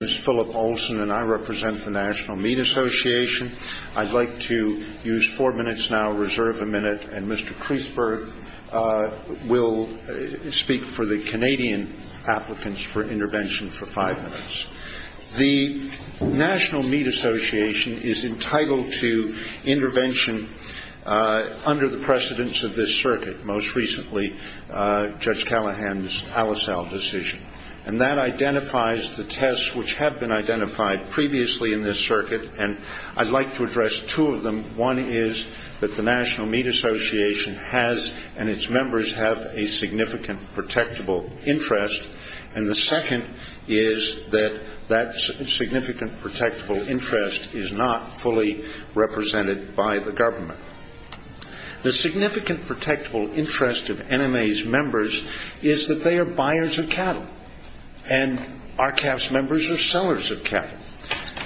I'd like to use four minutes now, reserve a minute, and Mr. Kreisberg will speak for the Canadian applicants for intervention for five minutes. The National Meat Association is entitled to intervention under the precedence of this circuit, most recently Judge Callahan's Al-Asal decision, and that identifies the tests which have been identified previously in this circuit, and I'd like to address two of them. One is that the National Meat Association has and its members have a significant protectable interest, and the second is that that significant protectable interest is not fully represented by the government. The significant protectable interest of NMA's members is that they are buyers of cattle, and our CAF's members are sellers of cattle.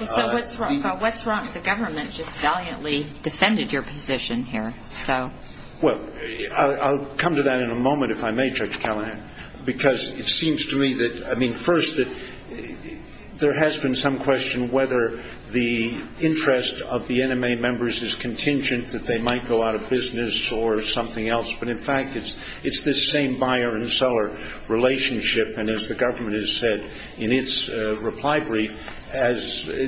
So what's wrong? The government just valiantly defended your position here. Well, I'll come to that in a moment if I may, Judge Callahan, because it seems to me that, I mean, first that there has been some question whether the interest of the NMA members is contingent, that they might go out of business or something else, but in fact it's this same buyer and seller relationship, and as the government has said in its reply brief, and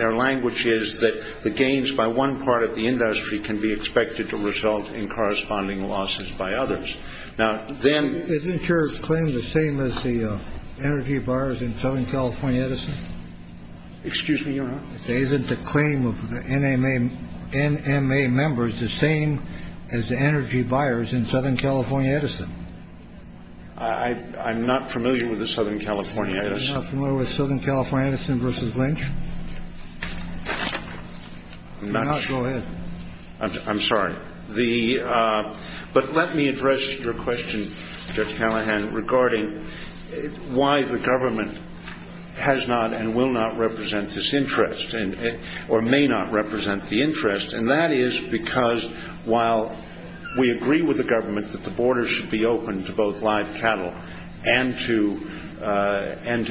their language is that the gains by one part of the industry can be expected to result in corresponding losses by others. Isn't your claim the same as the energy buyers in Southern California Edison? Excuse me, Your Honor? Isn't the claim of the NMA members the same as the energy buyers in Southern California Edison? I'm not familiar with the Southern California Edison. You're not familiar with Southern California Edison versus Lynch? I'm sorry. But let me address your question, Judge Callahan, regarding why the government has not and will not represent this interest or may not represent the interest, and that is because while we agree with the government that the border should be open to both live cattle and to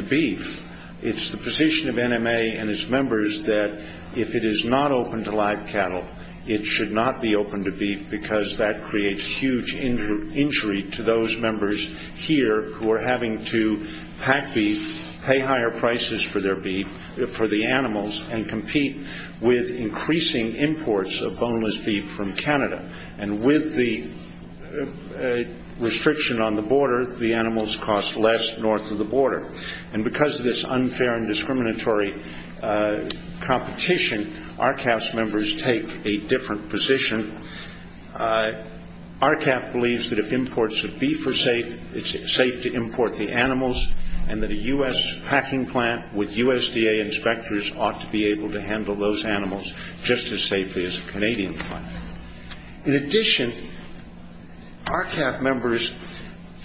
beef, it's the position of NMA and its members that if it is not open to live cattle, it should not be open to beef because that creates huge injury to those members here who are having to pack beef, pay higher prices for their beef, for the animals, and compete with increasing imports of boneless beef from Canada. And with the restriction on the border, the animals cost less north of the border. And because of this unfair and discriminatory competition, RCAF's members take a different position. RCAF believes that if imports of beef are safe, it's safe to import the animals, and that a U.S. packing plant with USDA inspectors ought to be able to handle those animals just as safely as a Canadian plant. In addition, RCAF members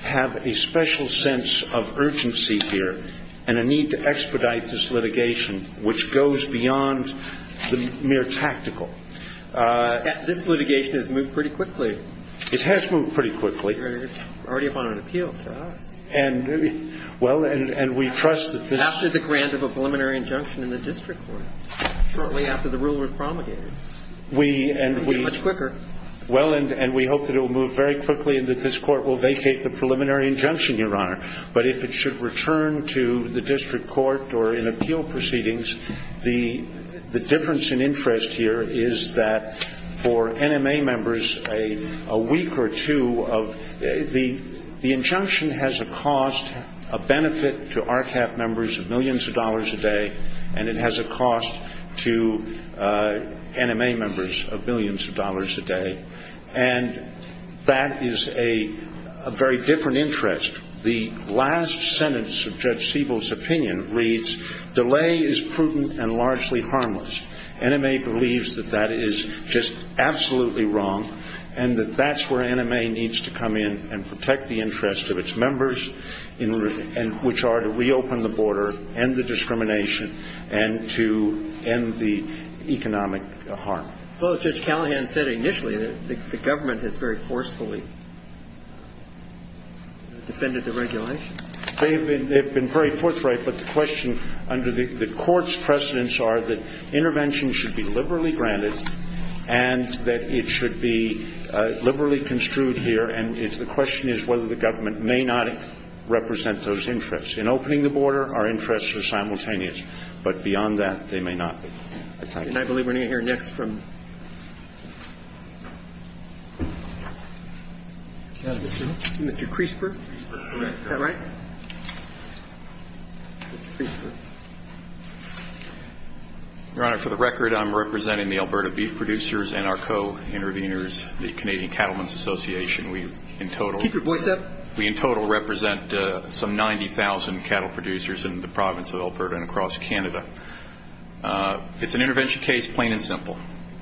have a special sense of urgency here and a need to expedite this litigation, which goes beyond the mere tactical. This litigation has moved pretty quickly. It has moved pretty quickly. Already upon an appeal to us. And, well, and we trust that this... After the grant of a preliminary injunction in the district court, shortly after the rule was promulgated. Much quicker. Well, and we hope that it will move very quickly and that this court will vacate the preliminary injunction, Your Honor. But if it should return to the district court or in appeal proceedings, the difference in interest here is that for NMA members, a week or two of... The injunction has a cost, a benefit to RCAF members of millions of dollars a day, and it has a cost to NMA members of millions of dollars a day. And that is a very different interest. The last sentence of Judge Siebel's opinion reads, delay is prudent and largely harmless. NMA believes that that is just absolutely wrong and that that's where NMA needs to come in and protect the interest of its members, which are to reopen the border, end the discrimination, and to end the economic harm. Well, as Judge Callahan said initially, the government has very forcefully defended the regulation. They have been very forthright, but the question under the court's precedence are that intervention should be liberally granted and that it should be liberally construed here. And the question is whether the government may not represent those interests. In opening the border, our interests are simultaneous. But beyond that, they may not be. And I believe we're going to hear next from Mr. Kreisberg. Is that right? Mr. Kreisberg. Your Honor, for the record, I'm representing the Alberta Beef Producers and our co-interveners, the Canadian Cattlemen's Association. Keep your voice up. We in total represent some 90,000 cattle producers in the province of Alberta and across Canada. It's an intervention case, plain and simple.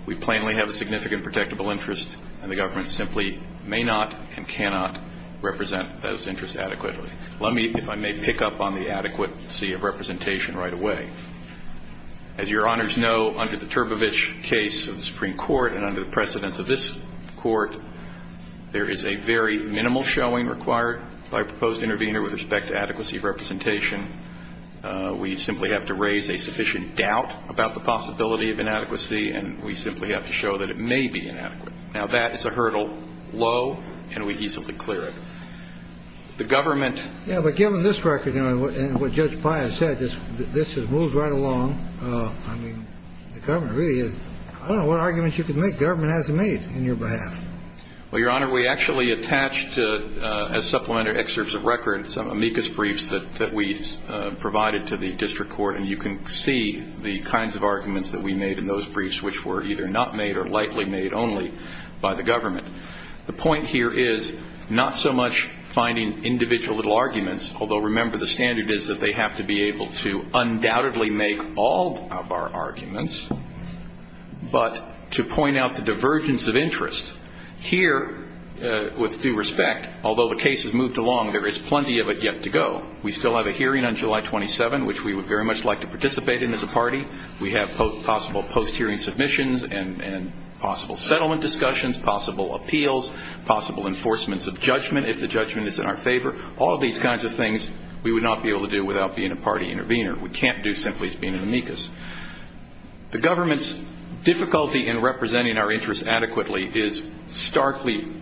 We plainly have a significant protectable interest, and the government simply may not and cannot represent those interests adequately. Let me, if I may, pick up on the adequacy of representation right away. As Your Honors know, under the Turbovich case of the Supreme Court and under the precedence of this Court, there is a very minimal showing required by a proposed intervener with respect to adequacy of representation. We simply have to raise a sufficient doubt about the possibility of inadequacy, and we simply have to show that it may be inadequate. Now, that is a hurdle low, and we easily clear it. The government ---- Yeah, but given this record and what Judge Pius said, this has moved right along. I mean, the government really is ---- I don't know what arguments you could make. The government hasn't made in your behalf. Well, Your Honor, we actually attached as supplementary excerpts of record some amicus briefs that we provided to the district court, and you can see the kinds of arguments that we made in those briefs, which were either not made or likely made only by the government. The point here is not so much finding individual little arguments, although remember the standard is that they have to be able to undoubtedly make all of our arguments, but to point out the divergence of interest. Here, with due respect, although the case has moved along, there is plenty of it yet to go. We still have a hearing on July 27, which we would very much like to participate in as a party. We have possible post-hearing submissions and possible settlement discussions, possible appeals, possible enforcements of judgment if the judgment is in our favor, all of these kinds of things we would not be able to do without being a party intervener. We can't do simply as being an amicus. The government's difficulty in representing our interests adequately is starkly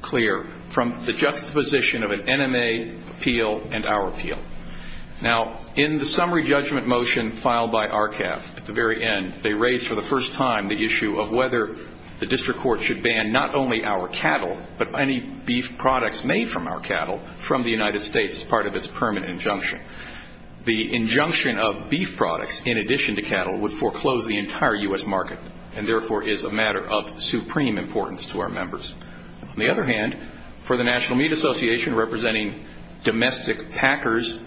clear from the juxtaposition of an NMA appeal and our appeal. Now, in the summary judgment motion filed by RCAF at the very end, they raised for the first time the issue of whether the district court should ban not only our cattle but any beef products made from our cattle from the United States as part of its permanent injunction. The injunction of beef products in addition to cattle would foreclose the entire U.S. market and therefore is a matter of supreme importance to our members. On the other hand, for the National Meat Association representing domestic packers,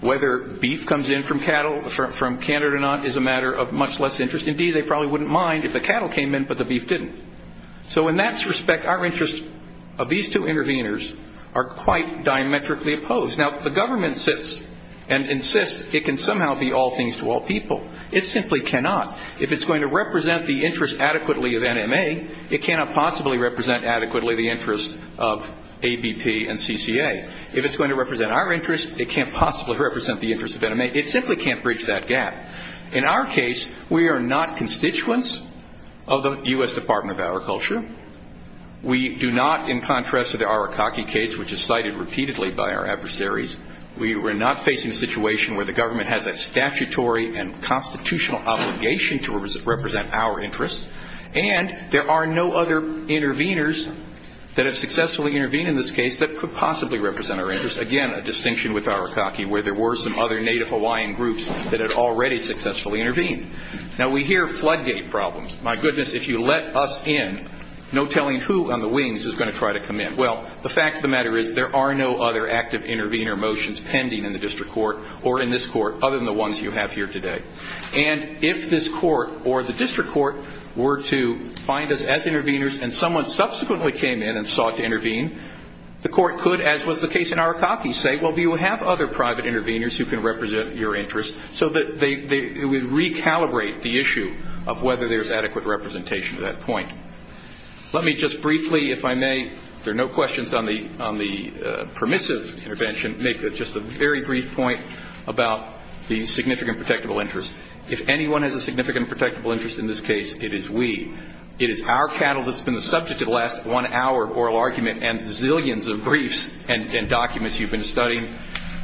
whether beef comes in from Canada or not is a matter of much less interest. Indeed, they probably wouldn't mind if the cattle came in but the beef didn't. So in that respect, our interests of these two interveners are quite diametrically opposed. Now, the government sits and insists it can somehow be all things to all people. It simply cannot. If it's going to represent the interest adequately of NMA, it cannot possibly represent adequately the interest of ABP and CCA. If it's going to represent our interest, it can't possibly represent the interest of NMA. It simply can't bridge that gap. In our case, we are not constituents of the U.S. Department of Agriculture. We do not, in contrast to the Arakaki case, which is cited repeatedly by our adversaries, we are not facing a situation where the government has a statutory and constitutional obligation to represent our interests. And there are no other interveners that have successfully intervened in this case that could possibly represent our interests, again, a distinction with Arakaki, where there were some other Native Hawaiian groups that had already successfully intervened. Now, we hear floodgate problems. My goodness, if you let us in, no telling who on the wings is going to try to come in. Well, the fact of the matter is there are no other active intervener motions pending in the district court or in this court other than the ones you have here today. And if this court or the district court were to find us as interveners and someone subsequently came in and sought to intervene, the court could, as was the case in Arakaki, say, well, do you have other private interveners who can represent your interests, so that it would recalibrate the issue of whether there's adequate representation to that point. Let me just briefly, if I may, if there are no questions on the permissive intervention, make just a very brief point about the significant protectable interest. If anyone has a significant protectable interest in this case, it is we. It is our cattle that's been the subject of the last one hour of oral argument and zillions of briefs and documents you've been studying.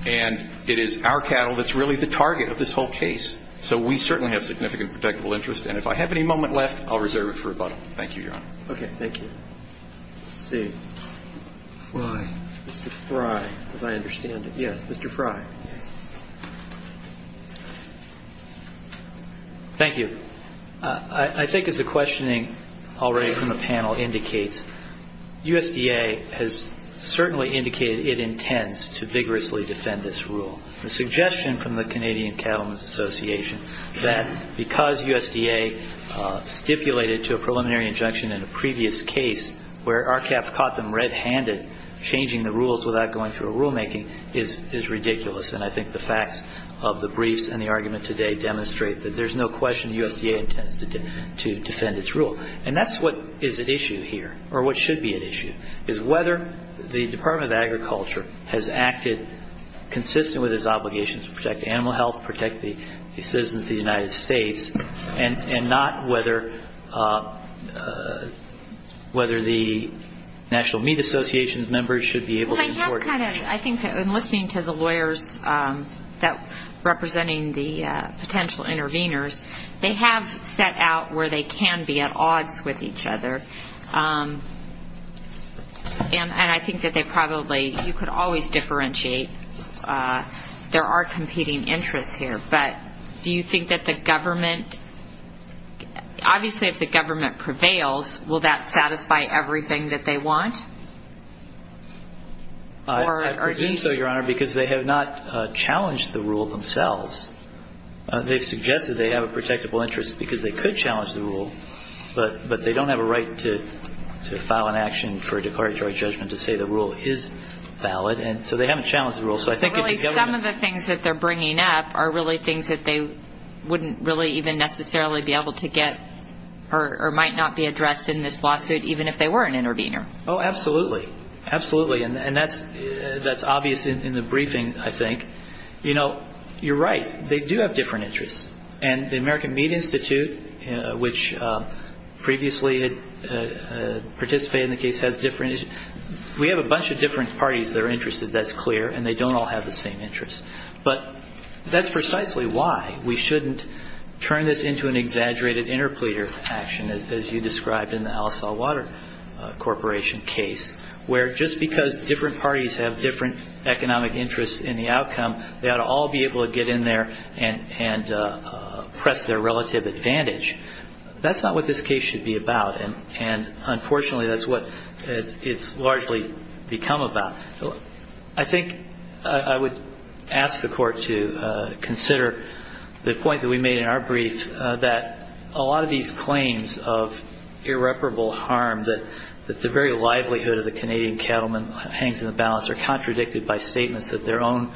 And it is our cattle that's really the target of this whole case. So we certainly have significant protectable interest. And if I have any moment left, I'll reserve it for rebuttal. Thank you, Your Honor. Okay. Thank you. Let's see. Fry. Mr. Fry, as I understand it. Yes, Mr. Fry. Thank you. I think as the questioning already from the panel indicates, USDA has certainly indicated it intends to vigorously defend this rule. The suggestion from the Canadian Cattlemen's Association that because USDA stipulated to a preliminary injunction in a previous case where RCAP caught them red-handed changing the rules without going through a rulemaking is ridiculous. And I think the facts of the briefs and the argument today demonstrate that there's no question the USDA intends to defend its rule. And that's what is at issue here, or what should be at issue, is whether the Department of Agriculture has acted consistent with its obligations to protect animal health, protect the citizens of the United States, and not whether the National Meat Association members should be able to import it. I'm kind of, I think in listening to the lawyers representing the potential interveners, they have set out where they can be at odds with each other. And I think that they probably, you could always differentiate. There are competing interests here. But do you think that the government, obviously if the government prevails, will that satisfy everything that they want? I presume so, Your Honor, because they have not challenged the rule themselves. They've suggested they have a protectable interest because they could challenge the rule, but they don't have a right to file an action for a declaratory judgment to say the rule is valid. And so they haven't challenged the rule. Some of the things that they're bringing up are really things that they wouldn't really even necessarily be able to get or might not be addressed in this lawsuit even if they were an intervener. Oh, absolutely. Absolutely. And that's obvious in the briefing, I think. You know, you're right. They do have different interests. And the American Meat Institute, which previously participated in the case, has different interests. We have a bunch of different parties that are interested, that's clear, and they don't all have the same interests. But that's precisely why we shouldn't turn this into an exaggerated interpleader action, as you described in the Al-Saw Water Corporation case, where just because different parties have different economic interests in the outcome, they ought to all be able to get in there and press their relative advantage. That's not what this case should be about, and unfortunately that's what it's largely become about. I think I would ask the Court to consider the point that we made in our brief, that a lot of these claims of irreparable harm, that the very livelihood of the Canadian cattlemen hangs in the balance, are contradicted by statements that their own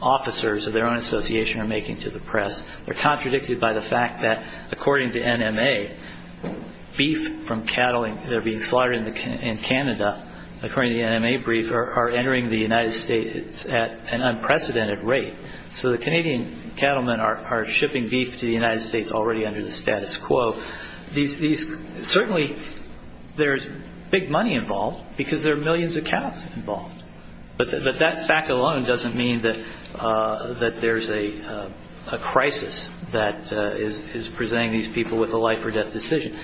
officers or their own association are making to the press. They're contradicted by the fact that, according to NMA, beef from cattle that are being slaughtered in Canada, according to the NMA brief, are entering the United States at an unprecedented rate. So the Canadian cattlemen are shipping beef to the United States already under the status quo. Certainly there's big money involved, because there are millions of cows involved. But that fact alone doesn't mean that there's a crisis that is presenting these people with a life-or-death decision.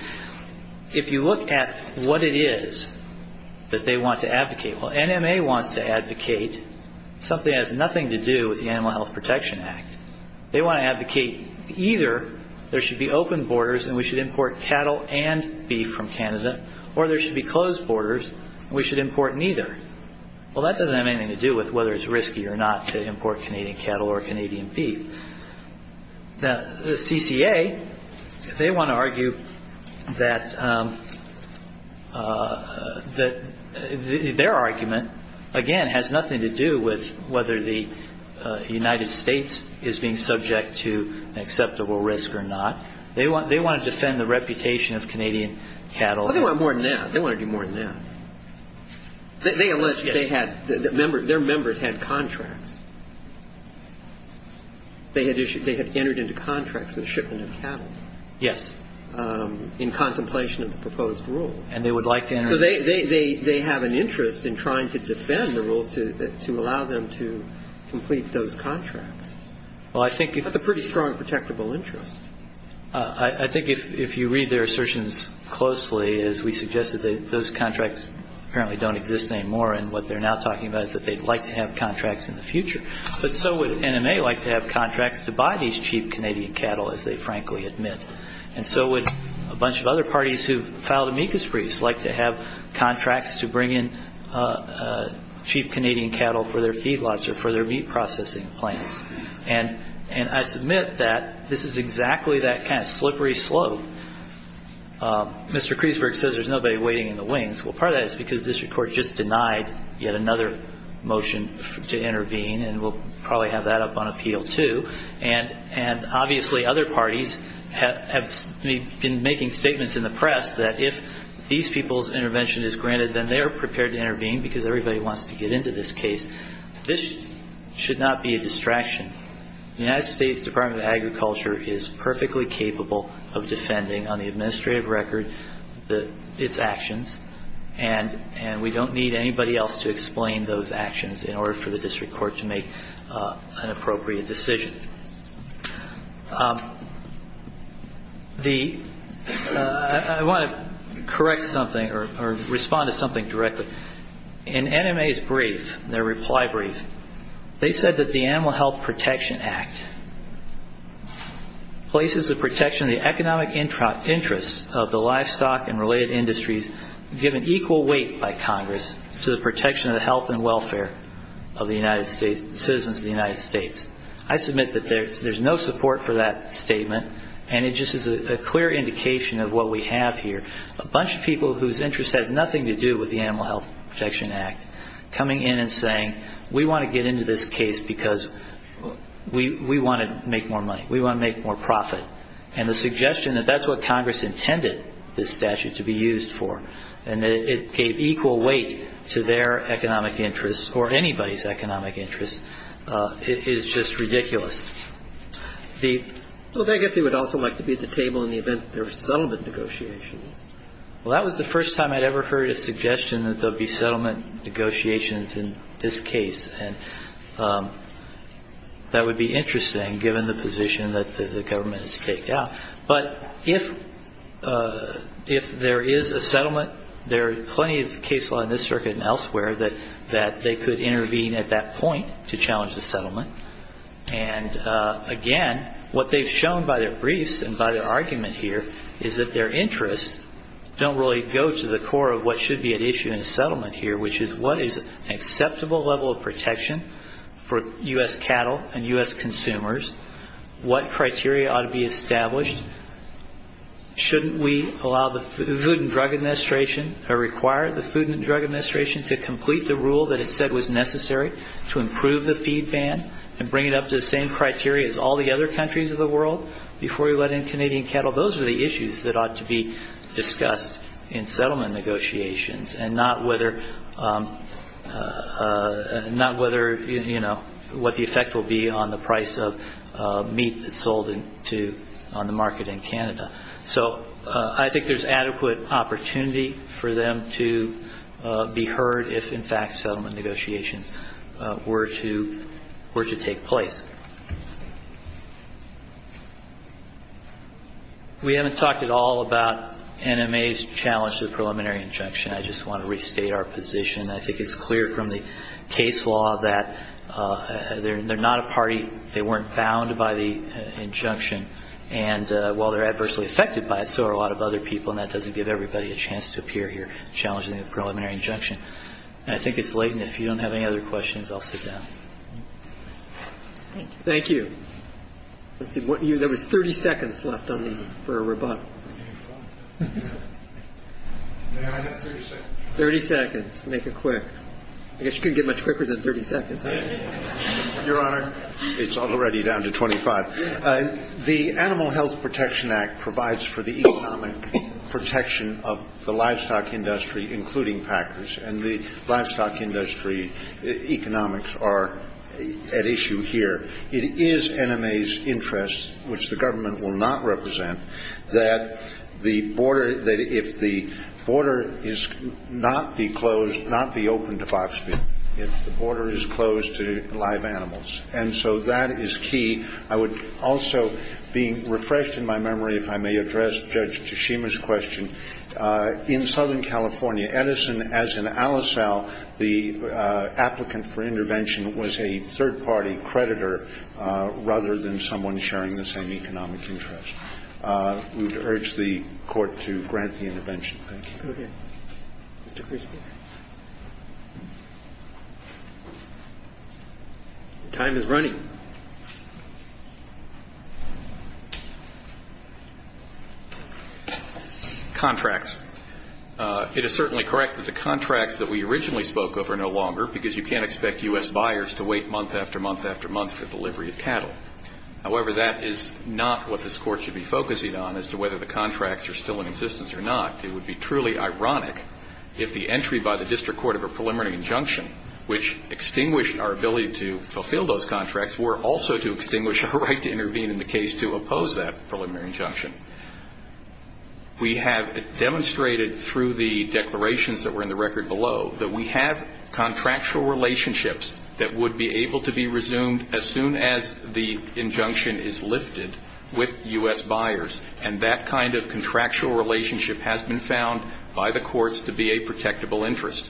If you look at what it is that they want to advocate, well, NMA wants to advocate something that has nothing to do with the Animal Health Protection Act. They want to advocate either there should be open borders and we should import cattle and beef from Canada, or there should be closed borders and we should import neither. Well, that doesn't have anything to do with whether it's risky or not to import Canadian cattle or Canadian beef. The CCA, they want to argue that their argument, again, has nothing to do with whether the United States is being subject to an acceptable risk or not. They want to defend the reputation of Canadian cattle. Well, they want more than that. They want to do more than that. They allege that their members had contracts. They had entered into contracts with shipment of cattle. Yes. In contemplation of the proposed rule. And they would like to enter. So they have an interest in trying to defend the rule to allow them to complete those contracts. That's a pretty strong protectable interest. I think if you read their assertions closely, as we suggested, those contracts apparently don't exist anymore, and what they're now talking about is that they'd like to have contracts in the future. But so would NMA like to have contracts to buy these cheap Canadian cattle, as they frankly admit. And so would a bunch of other parties who've filed amicus briefs like to have contracts to bring in cheap Canadian cattle for their feedlots or for their meat processing plants. And I submit that this is exactly that kind of slippery slope. Mr. Kreisberg says there's nobody waiting in the wings. Well, part of that is because this Court just denied yet another motion to intervene, and we'll probably have that up on appeal too. And obviously other parties have been making statements in the press that if these people's intervention is granted, then they are prepared to intervene because everybody wants to get into this case. This should not be a distraction. The United States Department of Agriculture is perfectly capable of defending, on the administrative record, its actions, and we don't need anybody else to explain those actions in order for the district court to make an appropriate decision. I want to correct something or respond to something directly. In NMA's brief, their reply brief, they said that the Animal Health Protection Act places the protection of the economic interests of the livestock and related industries given equal weight by Congress to the protection of the health and welfare of the citizens of the United States. I submit that there's no support for that statement, and it just is a clear indication of what we have here. A bunch of people whose interest has nothing to do with the Animal Health Protection Act coming in and saying, we want to get into this case because we want to make more money, we want to make more profit, and the suggestion that that's what Congress intended this statute to be used for and that it gave equal weight to their economic interests or anybody's economic interests is just ridiculous. The ---- Well, I guess they would also like to be at the table in the event there are settlement negotiations. Well, that was the first time I'd ever heard a suggestion that there would be settlement negotiations in this case, and that would be interesting given the position that the government has taken out. But if there is a settlement, there are plenty of case law in this circuit and elsewhere that they could intervene at that point to challenge the settlement. And, again, what they've shown by their briefs and by their argument here is that their interests don't really go to the core of what should be at issue in the settlement here, which is what is an acceptable level of protection for U.S. cattle and U.S. consumers, what criteria ought to be established, shouldn't we allow the Food and Drug Administration or require the Food and Drug Administration to complete the rule that it said was necessary to improve the feed ban and bring it up to the same criteria as all the other countries of the world before we let in Canadian cattle? Those are the issues that ought to be discussed in settlement negotiations and not what the effect will be on the price of meat sold on the market in Canada. So I think there's adequate opportunity for them to be heard if, in fact, settlement negotiations were to take place. We haven't talked at all about NMA's challenge to the preliminary injunction. I just want to restate our position. I think it's clear from the case law that they're not a party. They weren't bound by the injunction. And while they're adversely affected by it, so are a lot of other people, and that doesn't give everybody a chance to appear here challenging the preliminary injunction. And I think it's late, and if you don't have any other questions, I'll sit down. Thank you. There was 30 seconds left for a rebuttal. May I have 30 seconds? 30 seconds. Make it quick. I guess you couldn't get much quicker than 30 seconds. Your Honor, it's already down to 25. The Animal Health Protection Act provides for the economic protection of the livestock industry, including packers, and the livestock industry economics are at issue here. It is NMA's interest, which the government will not represent, that if the border is not be closed, not be open to fox people. If the border is closed to live animals. And so that is key. I would also, being refreshed in my memory, if I may address Judge Teshima's question. In Southern California, Edison, as in Alisal, the applicant for intervention, was a third-party creditor rather than someone sharing the same economic interest. We would urge the Court to grant the intervention. Thank you. Go ahead. Mr. Crespo. Time is running. Contracts. It is certainly correct that the contracts that we originally spoke of are no longer, because you can't expect U.S. buyers to wait month after month after month for delivery of cattle. However, that is not what this Court should be focusing on as to whether the contracts are still in existence or not. It would be truly ironic if the entry by the district court of a preliminary injunction, which extinguished our ability to fulfill those contracts, were also to extinguish our right to intervene in the case to oppose that preliminary injunction. We have demonstrated through the declarations that were in the record below that we have contractual relationships that would be able to be resumed as soon as the injunction is lifted with U.S. buyers, and that kind of contractual relationship has been found by the courts to be a protectable interest.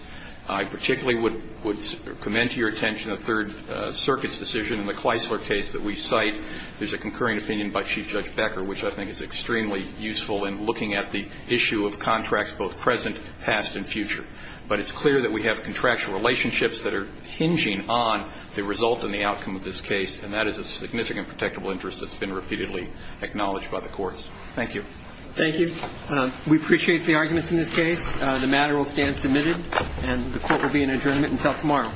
I particularly would commend to your attention the Third Circuit's decision in the Kleisler case that we cite. There's a concurring opinion by Chief Judge Becker, which I think is extremely useful in looking at the issue of contracts both present, past, and future. But it's clear that we have contractual relationships that are hinging on the result and the outcome of this case, and that is a significant protectable interest that's been repeatedly acknowledged by the courts. Thank you. Thank you. We appreciate the arguments in this case. The matter will stand submitted, and the Court will be in adjournment until tomorrow.